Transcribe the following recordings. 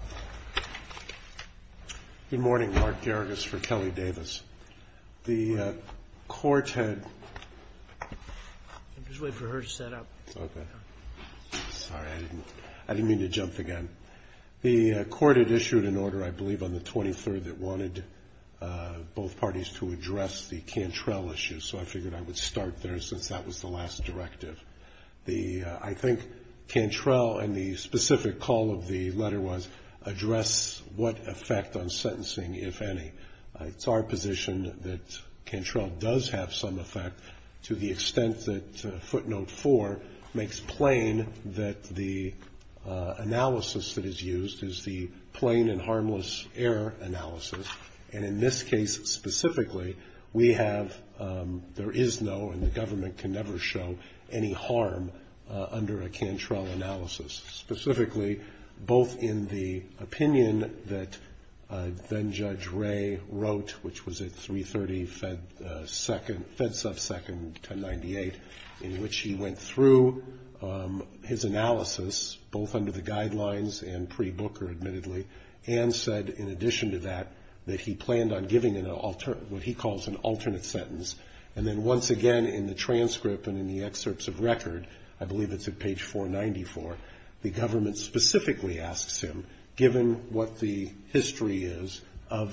The court had issued an order on the 23rd that wanted both parties to address the Cantrell issue, so I figured I would start there since that was the last directive. I think Cantrell and the specific call of the letter was, address what effect on sentencing, if any. It's our position that Cantrell does have some effect to the extent that footnote 4 makes plain that the analysis that is used is the plain and harmless error analysis. And in this case specifically, we have, there is no, and the government can never show any harm under a Cantrell analysis. Specifically, both in the opinion that then Judge Ray wrote, which was at 3.30 Fed sub second 1098, in which he went through his analysis, both under the guidelines and pre-Booker admittedly, and said in addition to that, that he planned on giving what he calls an alternate sentence. And then once again in the transcript and in the excerpts of record, I believe it's at page 494, the government specifically asks him, given what the history is and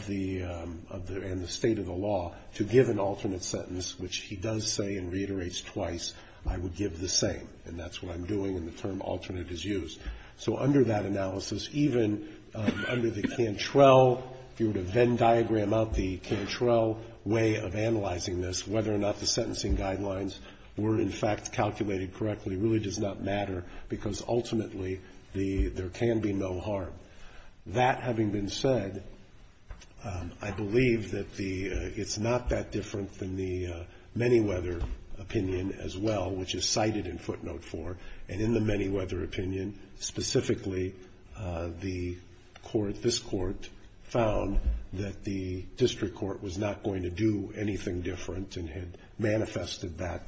the state of the law, to give an alternate sentence, which he does say and reiterates twice, I would give the same. And that's what I'm doing and the term alternate is used. So under that analysis, even under the Cantrell, if you were to Venn diagram out the Cantrell way of analyzing this, whether or not the sentencing guidelines were in fact calculated correctly really does not matter, because ultimately there can be no harm. That having been said, I believe that the, it's not that different than the Manyweather opinion as well, which is cited in footnote 4. And in the Manyweather opinion, specifically the court, this court, found that the district court was not going to do anything different and had manifested that,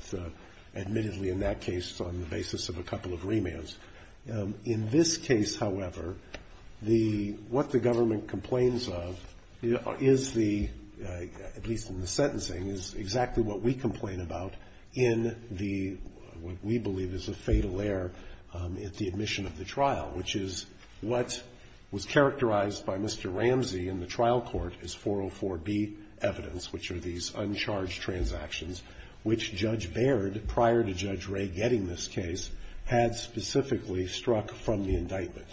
admittedly in that case, on the basis of a couple of remands. In this case, however, the, what the government complains of is the, at least in the sentencing, is exactly what we complain about in the, what we believe is a fatal error at the admission of the trial, which is what was characterized by Mr. Ramsey in the trial court as 404B evidence, which are these uncharged transactions, which Judge Baird, prior to Judge Ray getting this case, had specifically struck from the indictment.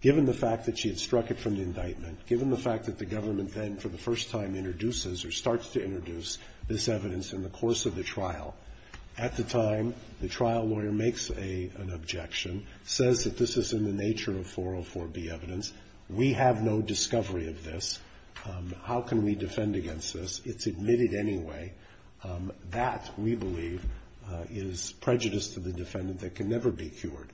Given the fact that she had struck it from the indictment, given the fact that the government then for the first time introduces or starts to introduce this evidence in the course of the trial, at the time the trial lawyer makes an objection, says that this is in the nature of 404B evidence, we have no discovery of this, how can we defend against this? It's admitted anyway. That, we believe, is prejudice to the defendant that can never be cured.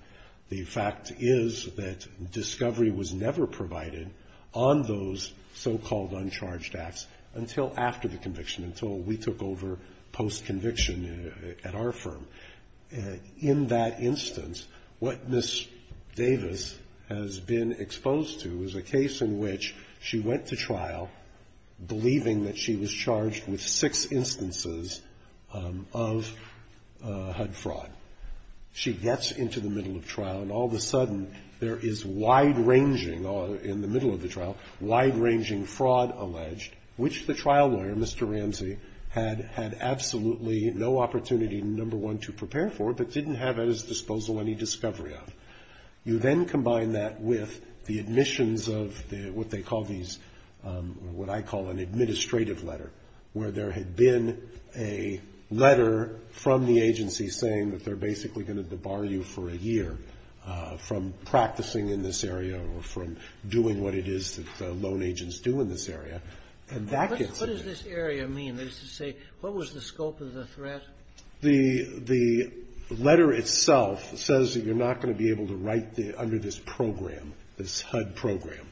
The fact is that discovery was never provided on those so-called uncharged acts until after the conviction, until we took over post-conviction at our firm. In that instance, what Ms. Davis has been exposed to is a case in which she went to trial believing that she was charged with six instances of HUD fraud. She gets into the middle of trial, and all of a sudden there is wide-ranging in the middle of the trial, wide-ranging fraud alleged, which the trial lawyer, Mr. Ramsey, had absolutely no opportunity, number one, to prepare for, but didn't have at his disposal any discovery of. You then combine that with the admissions of what they call these, what I call an administrative letter, where there had been a letter from the agency saying that they're basically going to debar you for a year from practicing in this area or from doing what it is that loan agents do in this area. And that gets admitted. Kagan. What does this area mean? That is to say, what was the scope of the threat? The letter itself says that you're not going to be able to write under this program, this HUD program.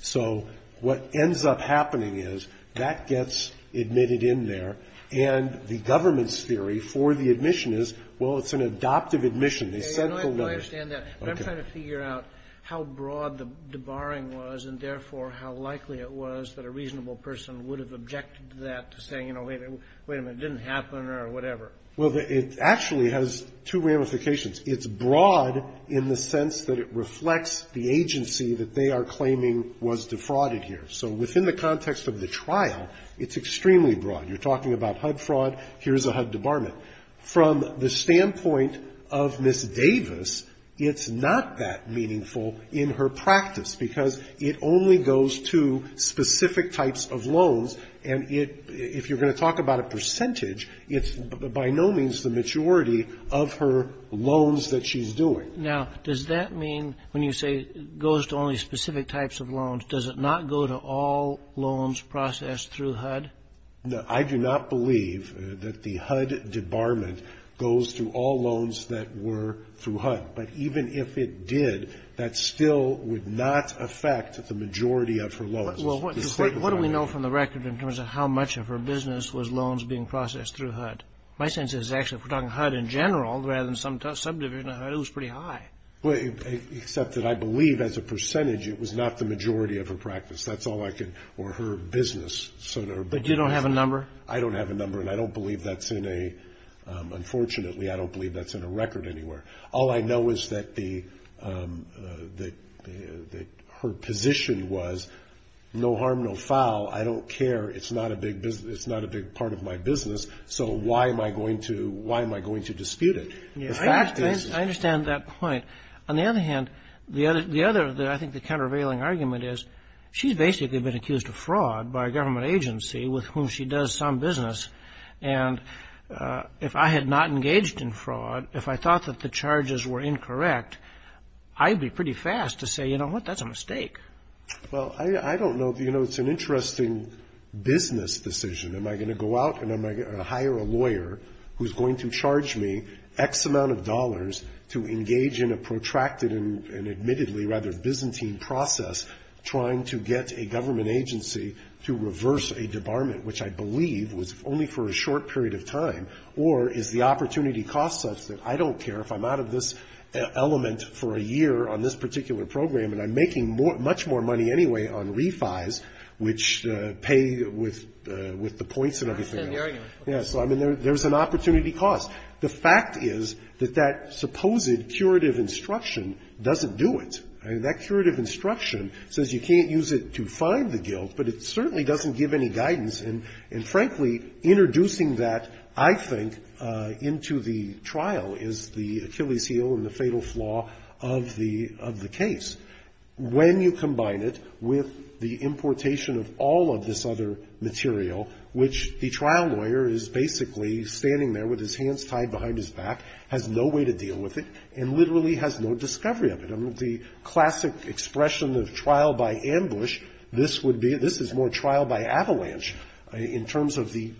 So what ends up happening is that gets admitted in there, and the government's theory for the admission is, well, it's an adoptive admission. They sent the letter. I understand that. But I'm trying to figure out how broad the debarring was and, therefore, how likely it was that a reasonable person would have objected to that to say, you know, wait a minute, it didn't happen or whatever. Well, it actually has two ramifications. It's broad in the sense that it reflects the agency that they are claiming was defrauded here. So within the context of the trial, it's extremely broad. You're talking about HUD fraud. Here's a HUD debarment. From the standpoint of Ms. Davis, it's not that meaningful in her practice, because it only goes to specific types of loans. And if you're going to talk about a percentage, it's by no means the maturity of her loans that she's doing. Now, does that mean when you say it goes to only specific types of loans, does it not go to all loans processed through HUD? I do not believe that the HUD debarment goes to all loans that were through HUD. But even if it did, that still would not affect the majority of her loans. What do we know from the record in terms of how much of her business was loans being processed through HUD? My sense is actually if we're talking HUD in general rather than some subdivision of HUD, it was pretty high. Except that I believe as a percentage it was not the majority of her practice. That's all I can – or her business. But you don't have a number? I don't have a number, and I don't believe that's in a – unfortunately, I don't believe that's in a record anywhere. All I know is that the – that her position was no harm, no foul. I don't care. It's not a big business. It's not a big part of my business, so why am I going to – why am I going to dispute it? The fact is – I understand that point. On the other hand, the other – I think the countervailing argument is she's basically been accused of fraud by a government agency with whom she does some business. And if I had not engaged in fraud, if I thought that the charges were incorrect, I'd be pretty fast to say, you know what, that's a mistake. Well, I don't know. You know, it's an interesting business decision. Am I going to go out and am I going to hire a lawyer who's going to charge me X amount of dollars to engage in a protracted rather Byzantine process trying to get a government agency to reverse a debarment, which I believe was only for a short period of time? Or is the opportunity cost such that I don't care if I'm out of this element for a year on this particular program and I'm making much more money anyway on refis, which pay with the points and everything else? I understand the argument. Yeah. So, I mean, there's an opportunity cost. The fact is that that supposed curative instruction doesn't do it. I mean, that curative instruction says you can't use it to find the guilt, but it certainly doesn't give any guidance. And frankly, introducing that, I think, into the trial is the Achilles' heel and the fatal flaw of the case. When you combine it with the importation of all of this other material, which the trial lawyer is basically standing there with his hands tied behind his back, has no way to deal with it, and literally has no discovery of it. I mean, the classic expression of trial by ambush, this would be this is more trial by avalanche in terms of the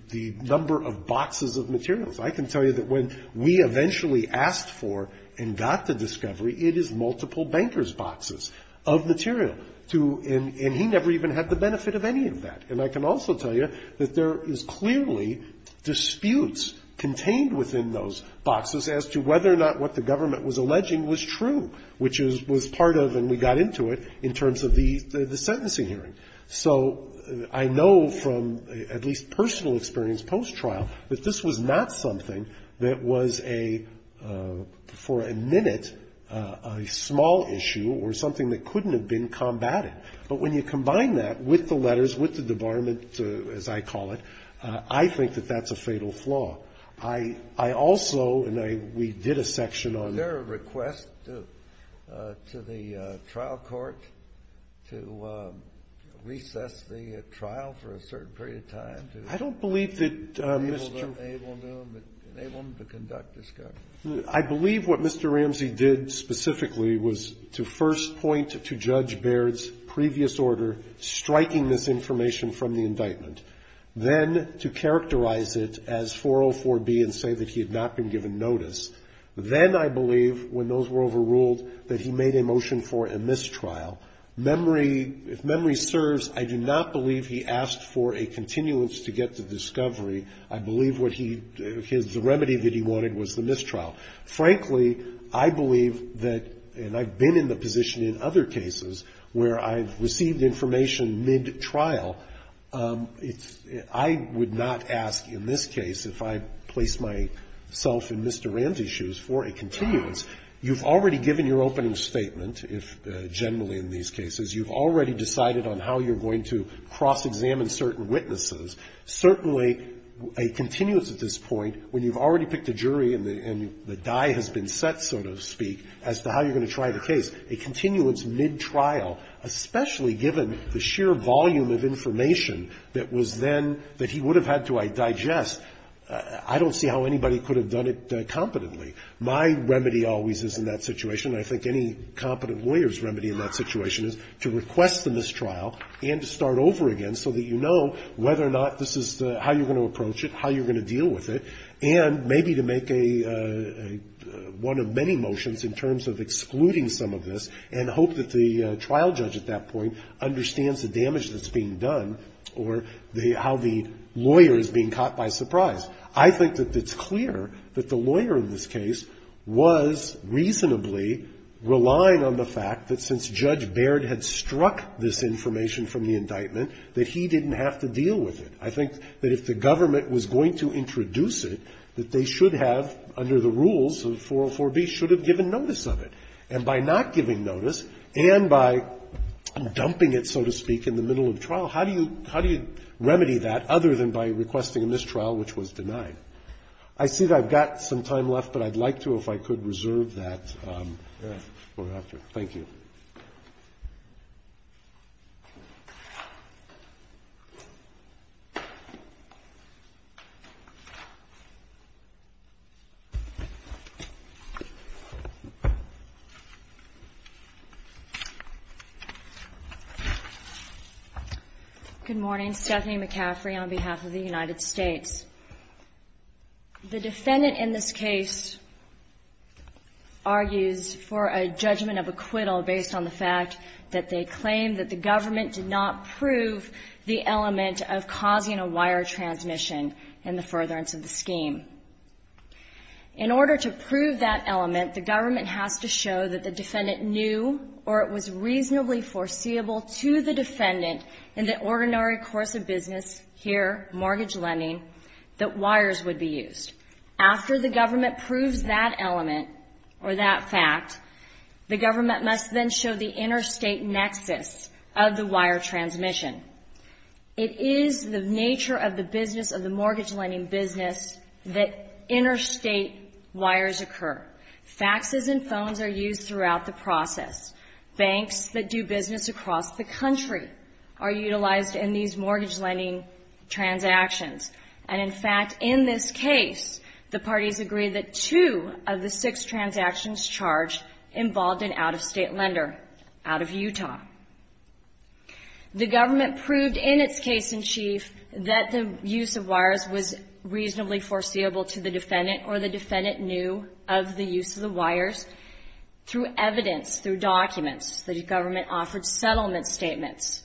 number of boxes of materials. I can tell you that when we eventually asked for and got the discovery, it is multiple bankers' boxes of material. And he never even had the benefit of any of that. And I can also tell you that there is clearly disputes contained within those boxes as to whether or not what the government was alleging was true, which was part of, and we got into it, in terms of the sentencing hearing. So I know from at least personal experience post-trial that this was not something that was a, for a minute, a small issue or something that couldn't have been combated. But when you combine that with the letters, with the debarment, as I call it, I think that that's a fatal flaw. I also, and I, we did a section on it. Kennedy. Is there a request to the trial court to recess the trial for a certain period of time to enable them to conduct discovery? I believe what Mr. Ramsey did specifically was to first point to Judge Baird's previous order striking this information from the indictment, then to characterize it as 404B and say that he had not been given notice. Then I believe, when those were overruled, that he made a motion for a mistrial. Memory, if memory serves, I do not believe he asked for a continuance to get the discovery. I believe what he, the remedy that he wanted was the mistrial. Frankly, I believe that, and I've been in the position in other cases where I've received information mid-trial. It's, I would not ask in this case, if I place myself in Mr. Ramsey's shoes, for a continuance. You've already given your opening statement, generally in these cases. You've already decided on how you're going to cross-examine certain witnesses. Certainly, a continuance at this point, when you've already picked a jury and the die has been set, so to speak, as to how you're going to try the case, a continuance mid-trial, especially given the sheer volume of information that was then, that he would have had to digest, I don't see how anybody could have done it competently. My remedy always is in that situation, and I think any competent lawyer's remedy in that situation is to request the mistrial and to start over again so that you know whether or not this is the, how you're going to approach it, how you're going to deal with it, and maybe to make a, one of many motions in terms of excluding some of this and hope that the trial judge at that point understands the damage that's being done or the, how the lawyer is being caught by surprise. I think that it's clear that the lawyer in this case was reasonably relying on the fact that since Judge Baird had struck this information from the indictment, that he didn't have to deal with it. I think that if the government was going to introduce it, that they should have, under the rules of 404b, should have given notice of it. And by not giving notice and by dumping it, so to speak, in the middle of the trial, how do you, how do you remedy that other than by requesting a mistrial which was denied? I see that I've got some time left, but I'd like to, if I could, reserve that for after. Thank you. Good morning. Stephanie McCaffrey on behalf of the United States. The defendant in this case argues for a judgment of acquittal based on the fact that they claim that the government did not prove the element of causing a wire transmission in the furtherance of the scheme. In order to prove that element, the government has to show that the defendant knew or it was reasonably foreseeable to the defendant in the ordinary course of business here, mortgage lending, that wires would be used. After the government proves that element or that fact, the government must then show the interstate nexus of the wire transmission. It is the nature of the business, of the mortgage lending business, that interstate wires occur. Faxes and phones are used throughout the process. Banks that do business across the country are utilized in these mortgage lending transactions. And, in fact, in this case, the parties agree that two of the six transactions charged involved an out-of-state lender, out of Utah. The government proved in its case in chief that the use of wires was reasonably foreseeable to the government offered settlement statements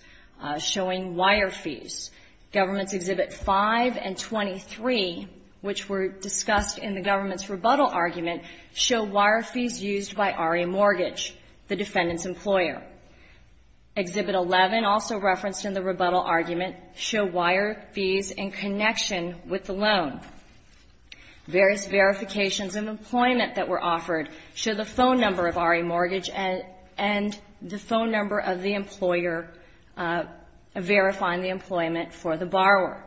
showing wire fees. Governments Exhibit 5 and 23, which were discussed in the government's rebuttal argument, show wire fees used by RE Mortgage, the defendant's employer. Exhibit 11, also referenced in the rebuttal argument, show wire fees in connection with the loan. Various verifications of employment that were offered show the phone number of RE Mortgage and the phone number of the employer verifying the employment for the borrower.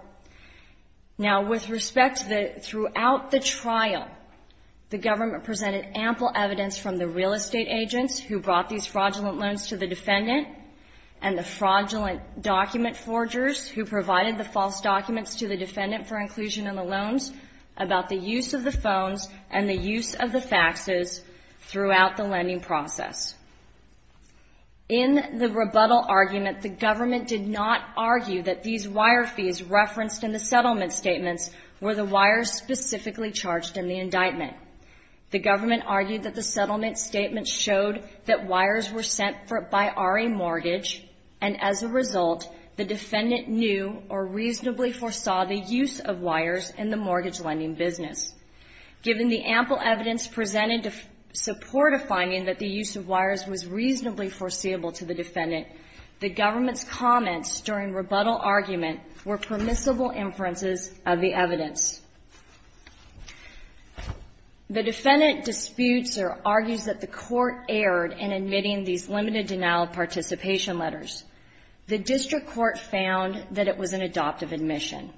Now, with respect to the, throughout the trial, the government presented ample evidence from the real estate agents who brought these fraudulent loans to the defendant and the fraudulent document forgers who provided the false documents to the defendant for inclusion in the loans about the use of the phones and the use of the faxes throughout the lending process. In the rebuttal argument, the government did not argue that these wire fees referenced in the settlement statements were the wires specifically charged in the indictment. The government argued that the settlement statements showed that wires were sent by RE Mortgage, and as a result, the defendant knew or reasonably foresaw the use of wires in the mortgage lending business. Given the ample evidence presented to support a finding that the use of wires was reasonably foreseeable to the defendant, the government's comments during rebuttal argument were permissible inferences of the evidence. The defendant disputes or argues that the court erred in admitting these limited denial of participation letters. The district court found that it was an adoptive admission,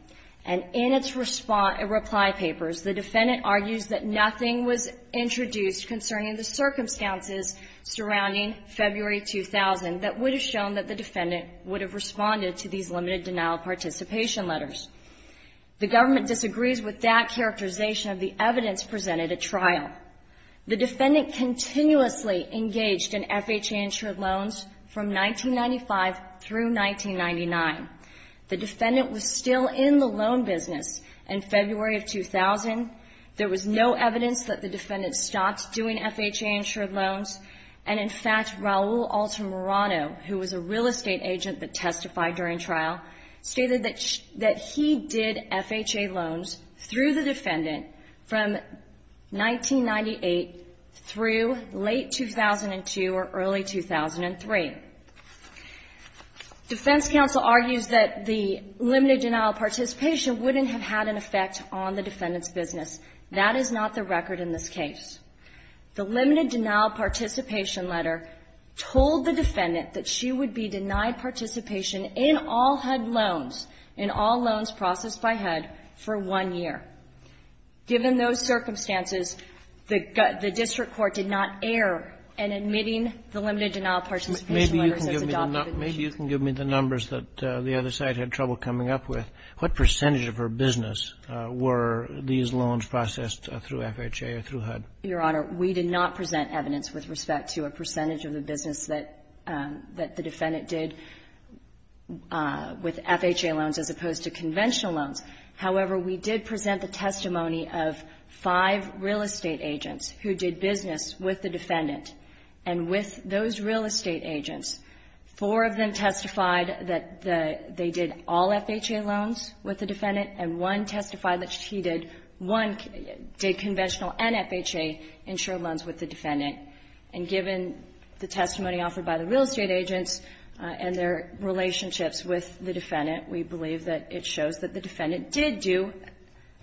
and in its reply papers, the defendant argues that nothing was introduced concerning the circumstances surrounding February 2000 that would have shown that the defendant would have responded to these limited denial of participation letters. The government disagrees with that characterization of the evidence presented at trial. The defendant continuously engaged in FHA-insured loans from 1995 through 1999. The defendant was still in the loan business in February of 2000. There was no evidence that the defendant stopped doing FHA-insured loans, and, in fact, Raul Alter Morano, who was a real estate agent that testified during trial, stated that he did FHA loans through the defendant from 1998 through late 2002 or early 2003. Defense counsel argues that the limited denial of participation wouldn't have had an effect on the defendant's business. That is not the record in this case. The limited denial of participation letter told the defendant that she would be denied participation in all HUD loans, in all loans processed by HUD, for one year. Given those circumstances, the district court did not err in admitting the limited denial of participation letters as adoptive admission. Maybe you can give me the numbers that the other side had trouble coming up with. What percentage of her business were these loans processed through FHA or through HUD? Your Honor, we did not present evidence with respect to a percentage of the business that the defendant did with FHA loans as opposed to conventional loans. However, we did present the testimony of five real estate agents who did business with the defendant. And with those real estate agents, four of them testified that they did all FHA loans with the defendant, and one testified that she did one conventional and FHA-insured loans with the defendant. And given the testimony offered by the real estate agents and their relationships with the defendant, we believe that it shows that the defendant did do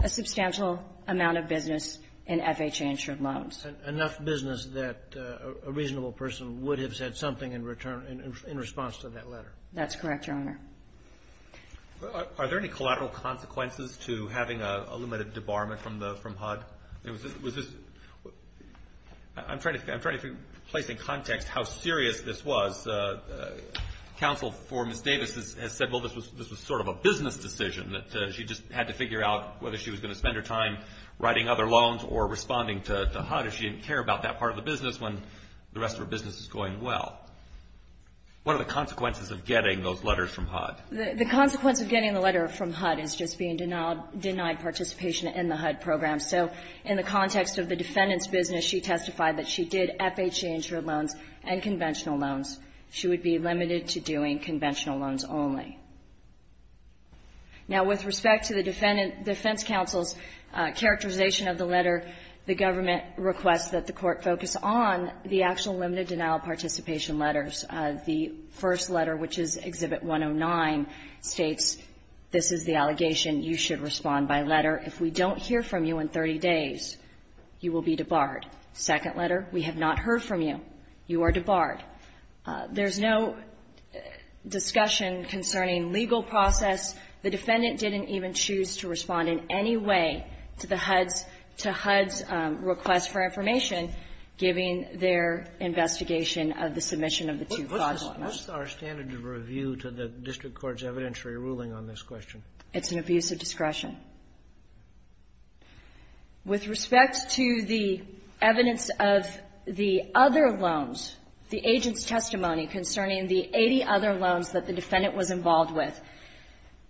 a substantial amount of business in FHA-insured loans. Enough business that a reasonable person would have said something in return in response to that letter. That's correct, Your Honor. Are there any collateral consequences to having a limited debarment from HUD? I'm trying to place in context how serious this was. Counsel for Ms. Davis has said, well, this was sort of a business decision that she just had to figure out whether she was going to spend her time writing other loans or responding to HUD if she didn't care about that part of the business when the rest of her business was going well. What are the consequences of getting those letters from HUD? The consequence of getting the letter from HUD is just being denied participation in the HUD program. So in the context of the defendant's business, she testified that she did FHA-insured loans and conventional loans. She would be limited to doing conventional loans only. Now, with respect to the defense counsel's characterization of the letter, the first letter, which is Exhibit 109, states this is the allegation. You should respond by letter. If we don't hear from you in 30 days, you will be debarred. Second letter, we have not heard from you. You are debarred. There's no discussion concerning legal process. The defendant didn't even choose to respond in any way to the HUD's request for information given their investigation of the submission of the two fraud claims. What's our standard of review to the district court's evidentiary ruling on this question? It's an abuse of discretion. With respect to the evidence of the other loans, the agent's testimony concerning the 80 other loans that the defendant was involved with,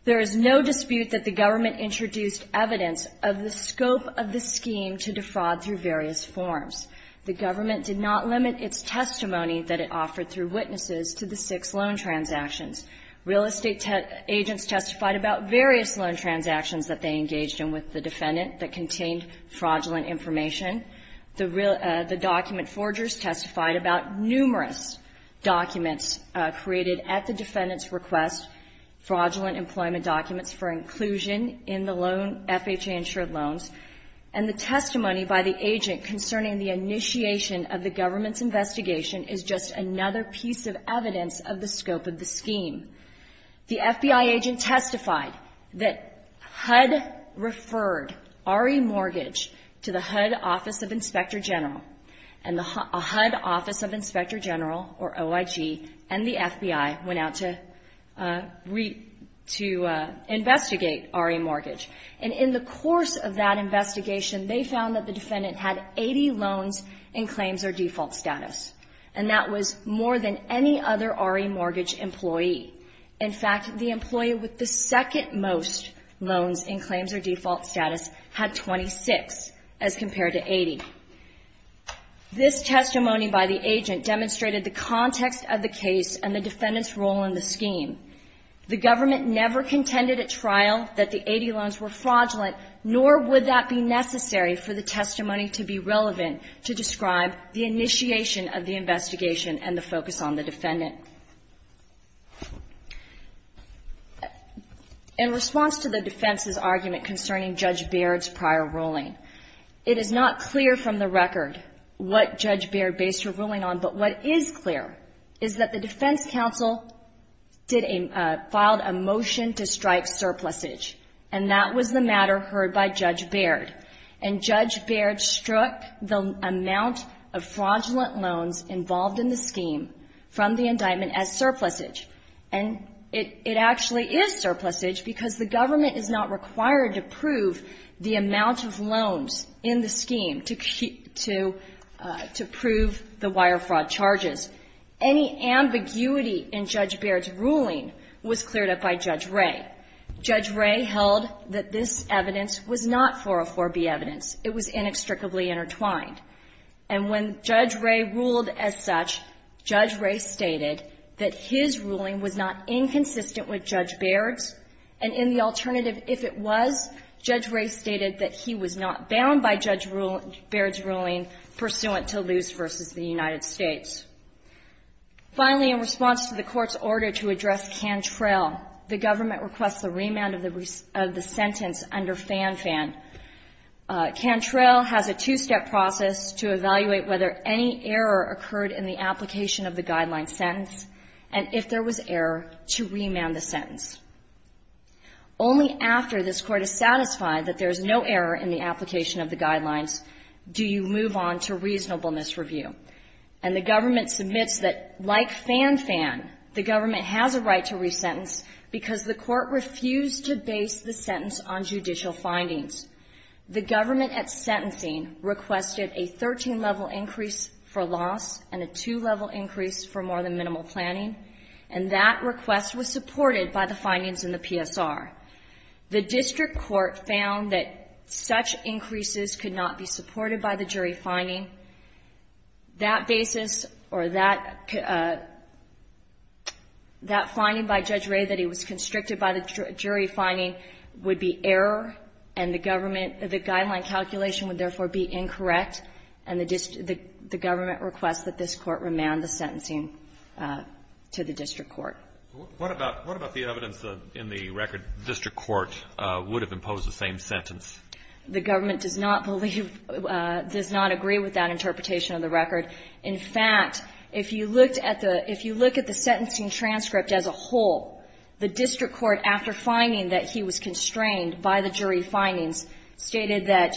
there is no dispute that the government introduced evidence of the scope of the scheme to defraud through various forms. The government did not limit its testimony that it offered through witnesses to the six loan transactions. Real estate agents testified about various loan transactions that they engaged in with the defendant that contained fraudulent information. The document forgers testified about numerous documents created at the defendant's request, fraudulent employment documents for inclusion in the loan, FHA-insured loans, and the testimony by the agent concerning the initiation of the government's investigation is just another piece of evidence of the scope of the scheme. The FBI agent testified that HUD referred RE Mortgage to the HUD Office of Inspector General, and the HUD Office of Inspector General, or OIG, and the FBI went out to investigate RE Mortgage. And in the course of that investigation, they found that the defendant had 80 loans in claims or default status. And that was more than any other RE Mortgage employee. In fact, the employee with the second-most loans in claims or default status had 26 as compared to 80. This testimony by the agent demonstrated the context of the case and the defendant's role in the scheme. The government never contended at trial that the 80 loans were fraudulent, nor would that be necessary for the testimony to be relevant to describe the initiation of the investigation and the focus on the defendant. In response to the defense's argument concerning Judge Baird's prior ruling, it is not clear from the record what Judge Baird based her ruling on, but what is clear is that the defense counsel filed a motion to strike surplusage, and that was the matter heard by Judge Baird. And Judge Baird struck the amount of fraudulent loans involved in the scheme from the indictment as surplusage. And it actually is surplusage because the government is not required to prove the amount of loans in the scheme to prove the wire fraud charges. Any ambiguity in Judge Baird's ruling was cleared up by Judge Ray. Judge Ray held that this evidence was not 404B evidence. It was inextricably intertwined. And when Judge Ray ruled as such, Judge Ray stated that his ruling was not inconsistent with Judge Baird's, and in the alternative, if it was, Judge Ray stated that he was not bound by Judge Baird's ruling pursuant to Luce v. the United States. Finally, in response to the Court's order to address Cantrell, the government requests a remand of the sentence under Fan Fan. Cantrell has a two-step process to evaluate whether any error occurred in the application of the Guidelines sentence, and if there was error, to remand the sentence. Only after this Court is satisfied that there is no error in the application of the Guidelines do you move on to reasonableness review. And the government submits that, like Fan Fan, the government has a right to resentence because the Court refused to base the sentence on judicial findings. The government at sentencing requested a 13-level increase for loss and a two-level increase for more than minimal planning, and that request was supported by the findings in the PSR. The district court found that such increases could not be supported by the jury finding. That basis or that finding by Judge Ray that he was constricted by the jury finding would be error, and the government, the Guideline calculation would therefore be incorrect, and the government requests that this Court remand the sentencing to the district court. What about the evidence in the record district court would have imposed the same sentence? The government does not believe, does not agree with that interpretation of the record. In fact, if you looked at the sentencing transcript as a whole, the district court, after finding that he was constrained by the jury findings, stated that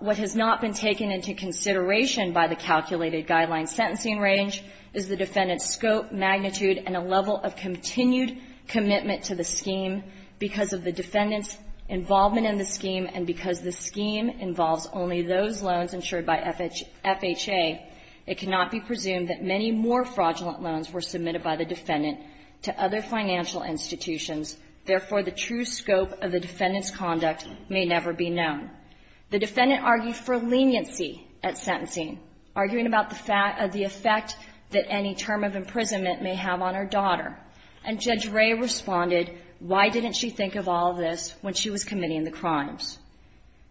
what has not been taken into consideration by the calculated Guidelines sentencing range is the defendant's scope, magnitude, and a level of continued commitment to the scheme. Because of the defendant's involvement in the scheme, and because the scheme involves only those loans insured by FHA, it cannot be presumed that many more fraudulent loans were submitted by the defendant to other financial institutions. Therefore, the true scope of the defendant's conduct may never be known. The defendant argued for leniency at sentencing, arguing about the effect that any term of imprisonment may have on her daughter. And Judge Ray responded, why didn't she think of all this when she was committing the crimes?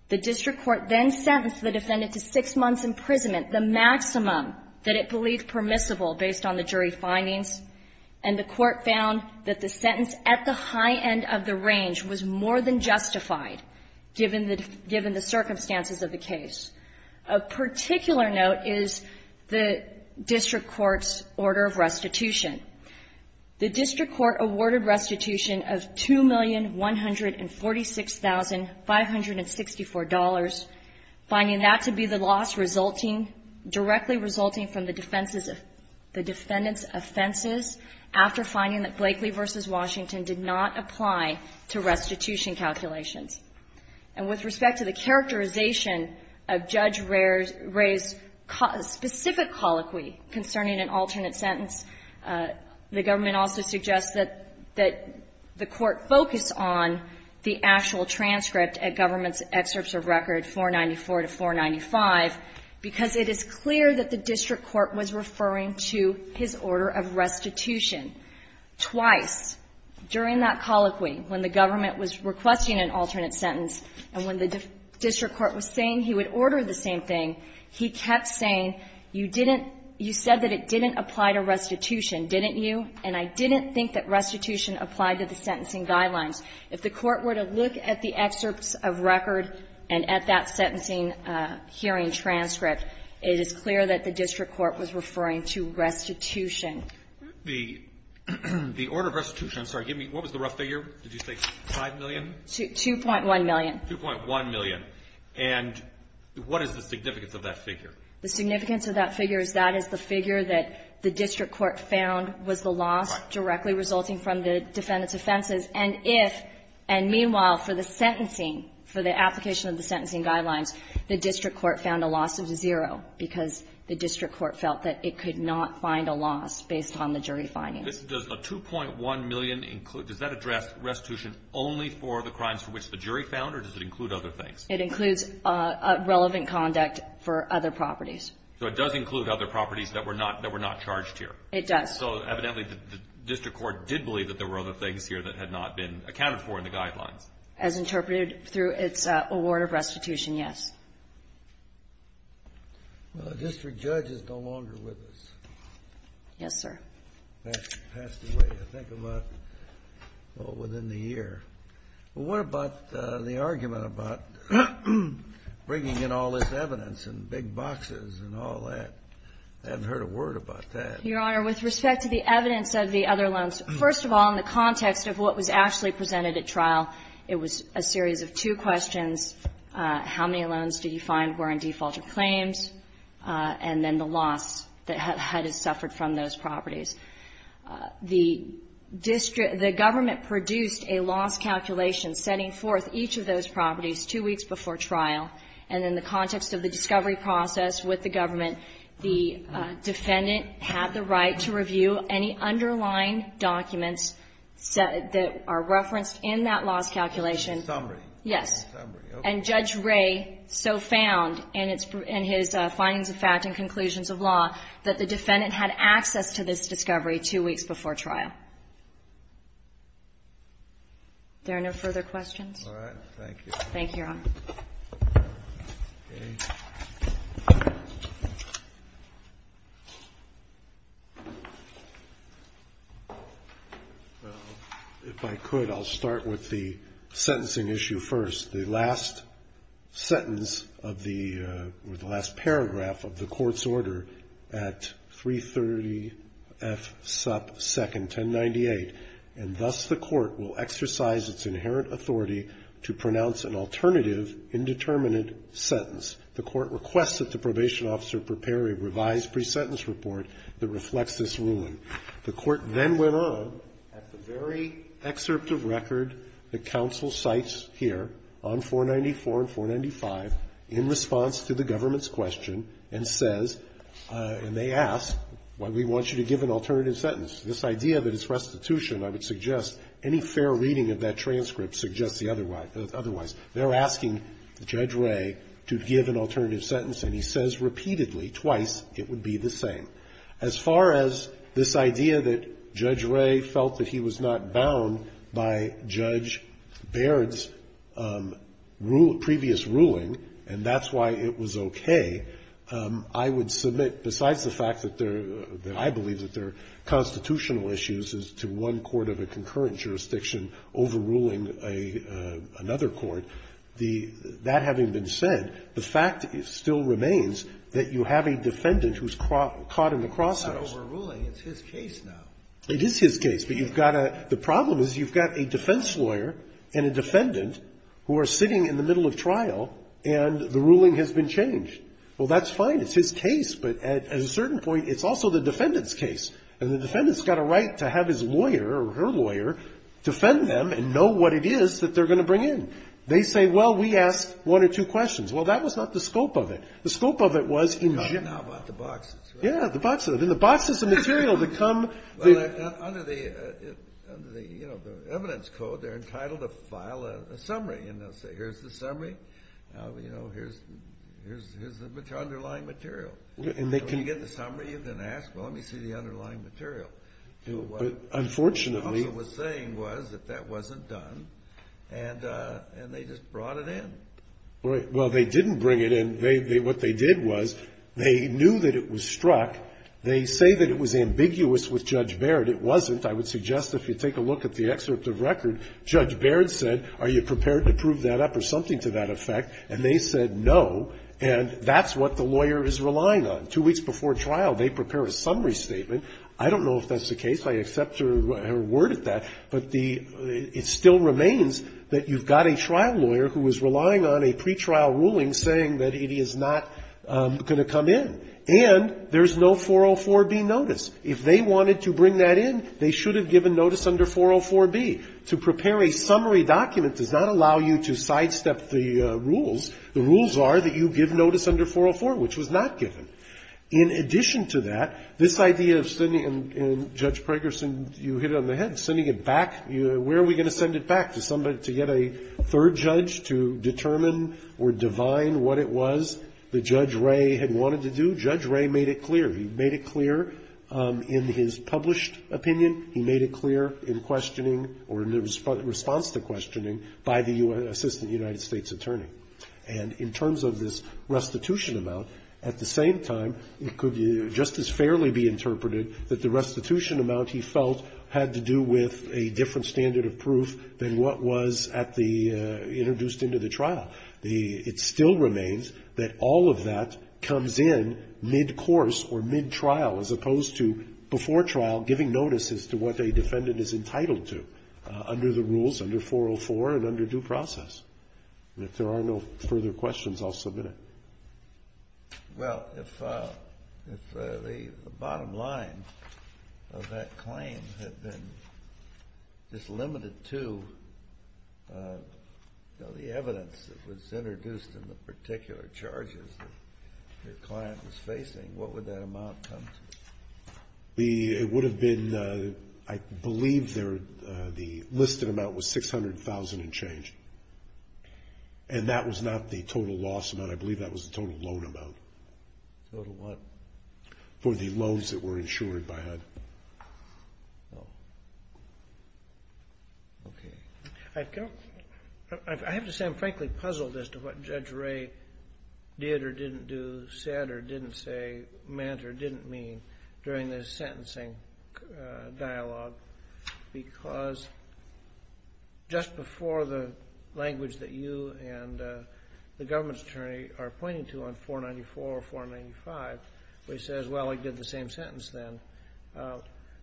The district court then sentenced the defendant to six months' imprisonment, the maximum that it believed permissible based on the jury findings, and the court found that the sentence at the high end of the range was more than justified given the circumstances of the case. A particular note is the district court's order of restitution. The district court awarded restitution of $2,146,564, finding that to be the loss resulting, directly resulting from the defendant's offenses after finding that And with respect to the characterization of Judge Ray's specific colloquy concerning an alternate sentence, the government also suggests that the court focus on the actual transcript at government's excerpts of record, 494 to 495, because it is clear that the district court was referring to his order of restitution. Twice during that colloquy, when the government was requesting an alternate sentence, and when the district court was saying he would order the same thing, he kept saying, you didn't, you said that it didn't apply to restitution, didn't you? And I didn't think that restitution applied to the sentencing guidelines. If the court were to look at the excerpts of record and at that sentencing hearing transcript, it is clear that the district court was referring to restitution. The order of restitution, I'm sorry, give me, what was the rough figure? Did you say 5 million? 2.1 million. 2.1 million. And what is the significance of that figure? The significance of that figure is that is the figure that the district court found was the loss directly resulting from the defendant's offenses. And if, and meanwhile, for the sentencing, for the application of the sentencing guidelines, the district court felt that it could not find a loss based on the jury findings. Does a 2.1 million include, does that address restitution only for the crimes for which the jury found, or does it include other things? It includes relevant conduct for other properties. So it does include other properties that were not charged here. It does. So evidently the district court did believe that there were other things here that had not been accounted for in the guidelines. As interpreted through its award of restitution, yes. Well, the district judge is no longer with us. Yes, sir. Passed away, I think, about, well, within the year. What about the argument about bringing in all this evidence and big boxes and all that? I haven't heard a word about that. Your Honor, with respect to the evidence of the other loans, first of all, in the context of what was actually presented at trial, it was a series of two questions, how many loans did you find were in defaulted claims, and then the loss that HUD has suffered from those properties. The district, the government produced a loss calculation setting forth each of those properties two weeks before trial, and in the context of the discovery process with the government, the defendant had the right to review any underlying documents that are referenced in that loss calculation. Summary. Yes. And Judge Ray so found in his findings of fact and conclusions of law that the defendant had access to this discovery two weeks before trial. Are there no further questions? Thank you. Thank you, Your Honor. If I could, I'll start with the sentencing issue first. The last sentence of the, or the last paragraph of the court's order at 330 F. Supp. 2nd, 1098. And thus the court will exercise its inherent authority to pronounce an alternative indeterminate sentence. The court requested that the probation officer prepare a revised pre-sentence report that reflects this ruling. The court then went on, at the very excerpt of record that counsel cites here on 494 and 495, in response to the government's question, and says, and they ask, well, we want you to give an alternative sentence. This idea that it's restitution, I would suggest any fair reading of that transcript suggests the otherwise. They're asking Judge Ray to give an alternative sentence, and he says repeatedly, twice, it would be the same. As far as this idea that Judge Ray felt that he was not bound by Judge Baird's previous ruling, and that's why it was okay, I would submit, besides the fact that I believe that there are constitutional issues as to one court of a concurrent jurisdiction overruling another court, that having been said, the fact still remains that you have a defendant who's caught in the crosshairs. It's not overruling. It's his case now. It is his case. But you've got a the problem is you've got a defense lawyer and a defendant who are sitting in the middle of trial, and the ruling has been changed. Well, that's fine. It's his case. But at a certain point, it's also the defendant's case, and the defendant's got a right to have his lawyer or her lawyer defend them and know what it is that they're going to bring in. They say, well, we asked one or two questions. Well, that was not the scope of it. The scope of it was in general. Now about the boxes, right? Yeah, the boxes. And the boxes of material that come. Under the evidence code, they're entitled to file a summary, and they'll say, here's the summary. Now, you know, here's the underlying material. When you get the summary, you then ask, well, let me see the underlying material. But what the officer was saying was that that wasn't done, and they just brought it in. Right. Well, they didn't bring it in. What they did was they knew that it was struck. They say that it was ambiguous with Judge Baird. It wasn't. I would suggest if you take a look at the excerpt of record, Judge Baird said, are you prepared to prove that up or something to that effect? And they said no. And that's what the lawyer is relying on. Two weeks before trial, they prepare a summary statement. I don't know if that's the case. I accept her word at that. But the ‑‑ it still remains that you've got a trial lawyer who is relying on a pretrial ruling saying that it is not going to come in. And there's no 404B notice. If they wanted to bring that in, they should have given notice under 404B. To prepare a summary document does not allow you to sidestep the rules. The rules are that you give notice under 404, which was not given. In addition to that, this idea of sending ‑‑ and, Judge Prager, you hit it on the head. Sending it back. Where are we going to send it back? To somebody ‑‑ to get a third judge to determine or divine what it was that Judge Wray had wanted to do? Judge Wray made it clear. He made it clear in his published opinion. He made it clear in questioning or in the response to questioning by the assistant United States attorney. And in terms of this restitution amount, at the same time, it could just as fairly be interpreted that the restitution amount, he felt, had to do with a different standard of proof than what was at the ‑‑ introduced into the trial. It still remains that all of that comes in midcourse or midtrial as opposed to before trial, giving notice as to what a defendant is entitled to under the rules, under 404 and under due process. And if there are no further questions, I'll submit it. Well, if the bottom line of that claim had been just limited to the evidence that was introduced in the particular charges that your client was facing, what would that amount come to? It would have been, I believe, the listed amount was $600,000 and change. And that was not the total loss amount. I believe that was the total loan amount. Total what? For the loans that were insured by HUD. Oh. Okay. I have to say, I'm frankly puzzled as to what Judge Wray did or didn't do, said or didn't say, meant or didn't mean during this sentencing dialogue. Because just before the language that you and the government's attorney are pointing to on 494 or 495, where he says, well, I did the same sentence then,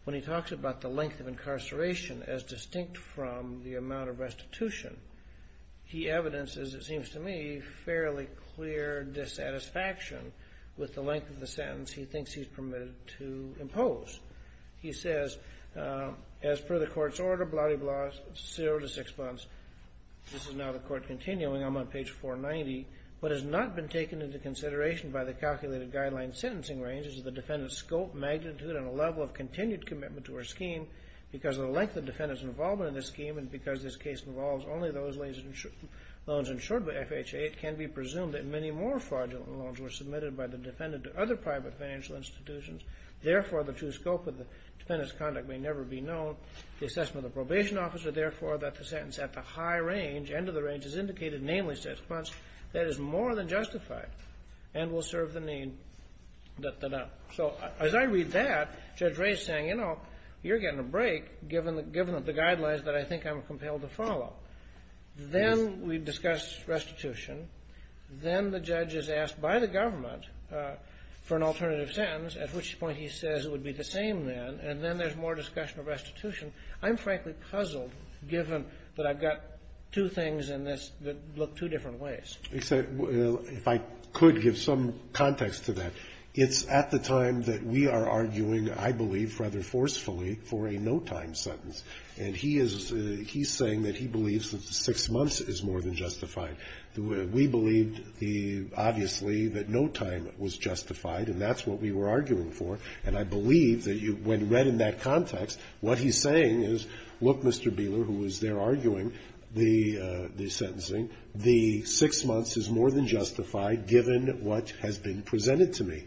when he talks about the length of incarceration as distinct from the amount of restitution, he evidences, it is the length of the sentence he thinks he's permitted to impose. He says, as per the court's order, blah-de-blah, zero to six months. This is now the court continuing. I'm on page 490. What has not been taken into consideration by the calculated guideline sentencing range is the defendant's scope, magnitude, and level of continued commitment to her scheme. Because of the length of the defendant's involvement in this scheme and because this case involves only those loans insured by FHA, it can be presumed that many more fraudulent loans were submitted by the defendant to other private financial institutions. Therefore, the true scope of the defendant's conduct may never be known. The assessment of the probation officer, therefore, that the sentence at the high range, end of the range, is indicated, namely six months, that is more than justified and will serve the need, da-da-da. So as I read that, Judge Ray is saying, you know, you're getting a break given the guidelines that I think I'm compelled to follow. Then we discuss restitution. Then the judge is asked by the government for an alternative sentence, at which point he says it would be the same then. And then there's more discussion of restitution. I'm, frankly, puzzled, given that I've got two things in this that look two different ways. Except, if I could give some context to that, it's at the time that we are arguing, I believe, rather forcefully, for a no-time sentence. And he is saying that he believes that six months is more than justified. We believed, obviously, that no time was justified, and that's what we were arguing for. And I believe that when read in that context, what he's saying is, look, Mr. Bieler, who was there arguing the sentencing, the six months is more than justified, given what has been presented to me.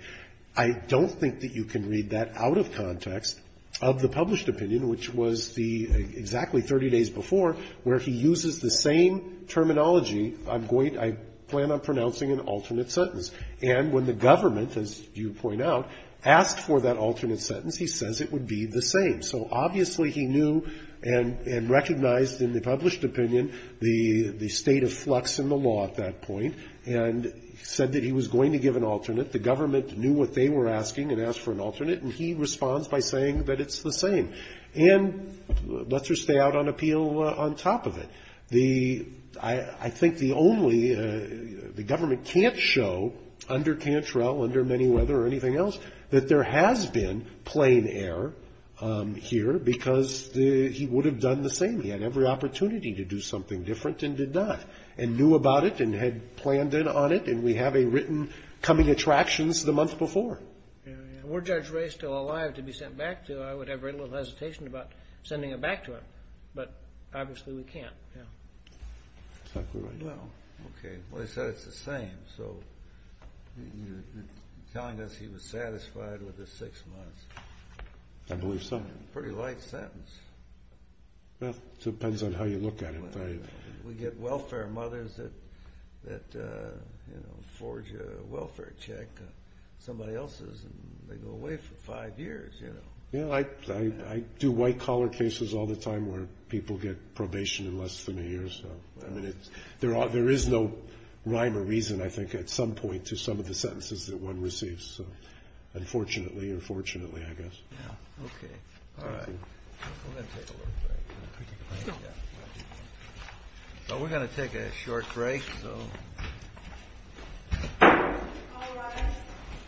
I don't think that you can read that out of context of the published opinion, which was the, exactly 30 days before, where he uses the same terminology, I'm going to, I plan on pronouncing an alternate sentence. And when the government, as you point out, asked for that alternate sentence, he says it would be the same. So, obviously, he knew and recognized in the published opinion the state of flux in the law at that point, and said that he was going to give an alternate. The government knew what they were asking and asked for an alternate, and he responds by saying that it's the same, and lets her stay out on appeal on top of it. The, I think the only, the government can't show under Cantrell, under many whether or anything else, that there has been plain error here, because he would have done the same. He had every opportunity to do something different and did not, and knew about it and had planned in on it, and we have a written coming attractions the month before. Were Judge Ray still alive to be sent back to, I would have very little hesitation about sending it back to him. But, obviously, we can't. Exactly right. Well, okay. Well, he said it's the same. So, you're telling us he was satisfied with the six months. I believe so. Pretty light sentence. Well, it depends on how you look at it. We get welfare mothers that forge a welfare check, somebody else's, and they go away for five years, you know. Yeah, I do white collar cases all the time where people get probation in less than a year, so. I mean, there is no rhyme or reason, I think, at some point to some of the sentences that one receives. So, unfortunately or fortunately, I guess. Yeah, okay. All right. We're going to take a little break. Can we take a break? Yeah. Well, we're going to take a short break, so. All rise.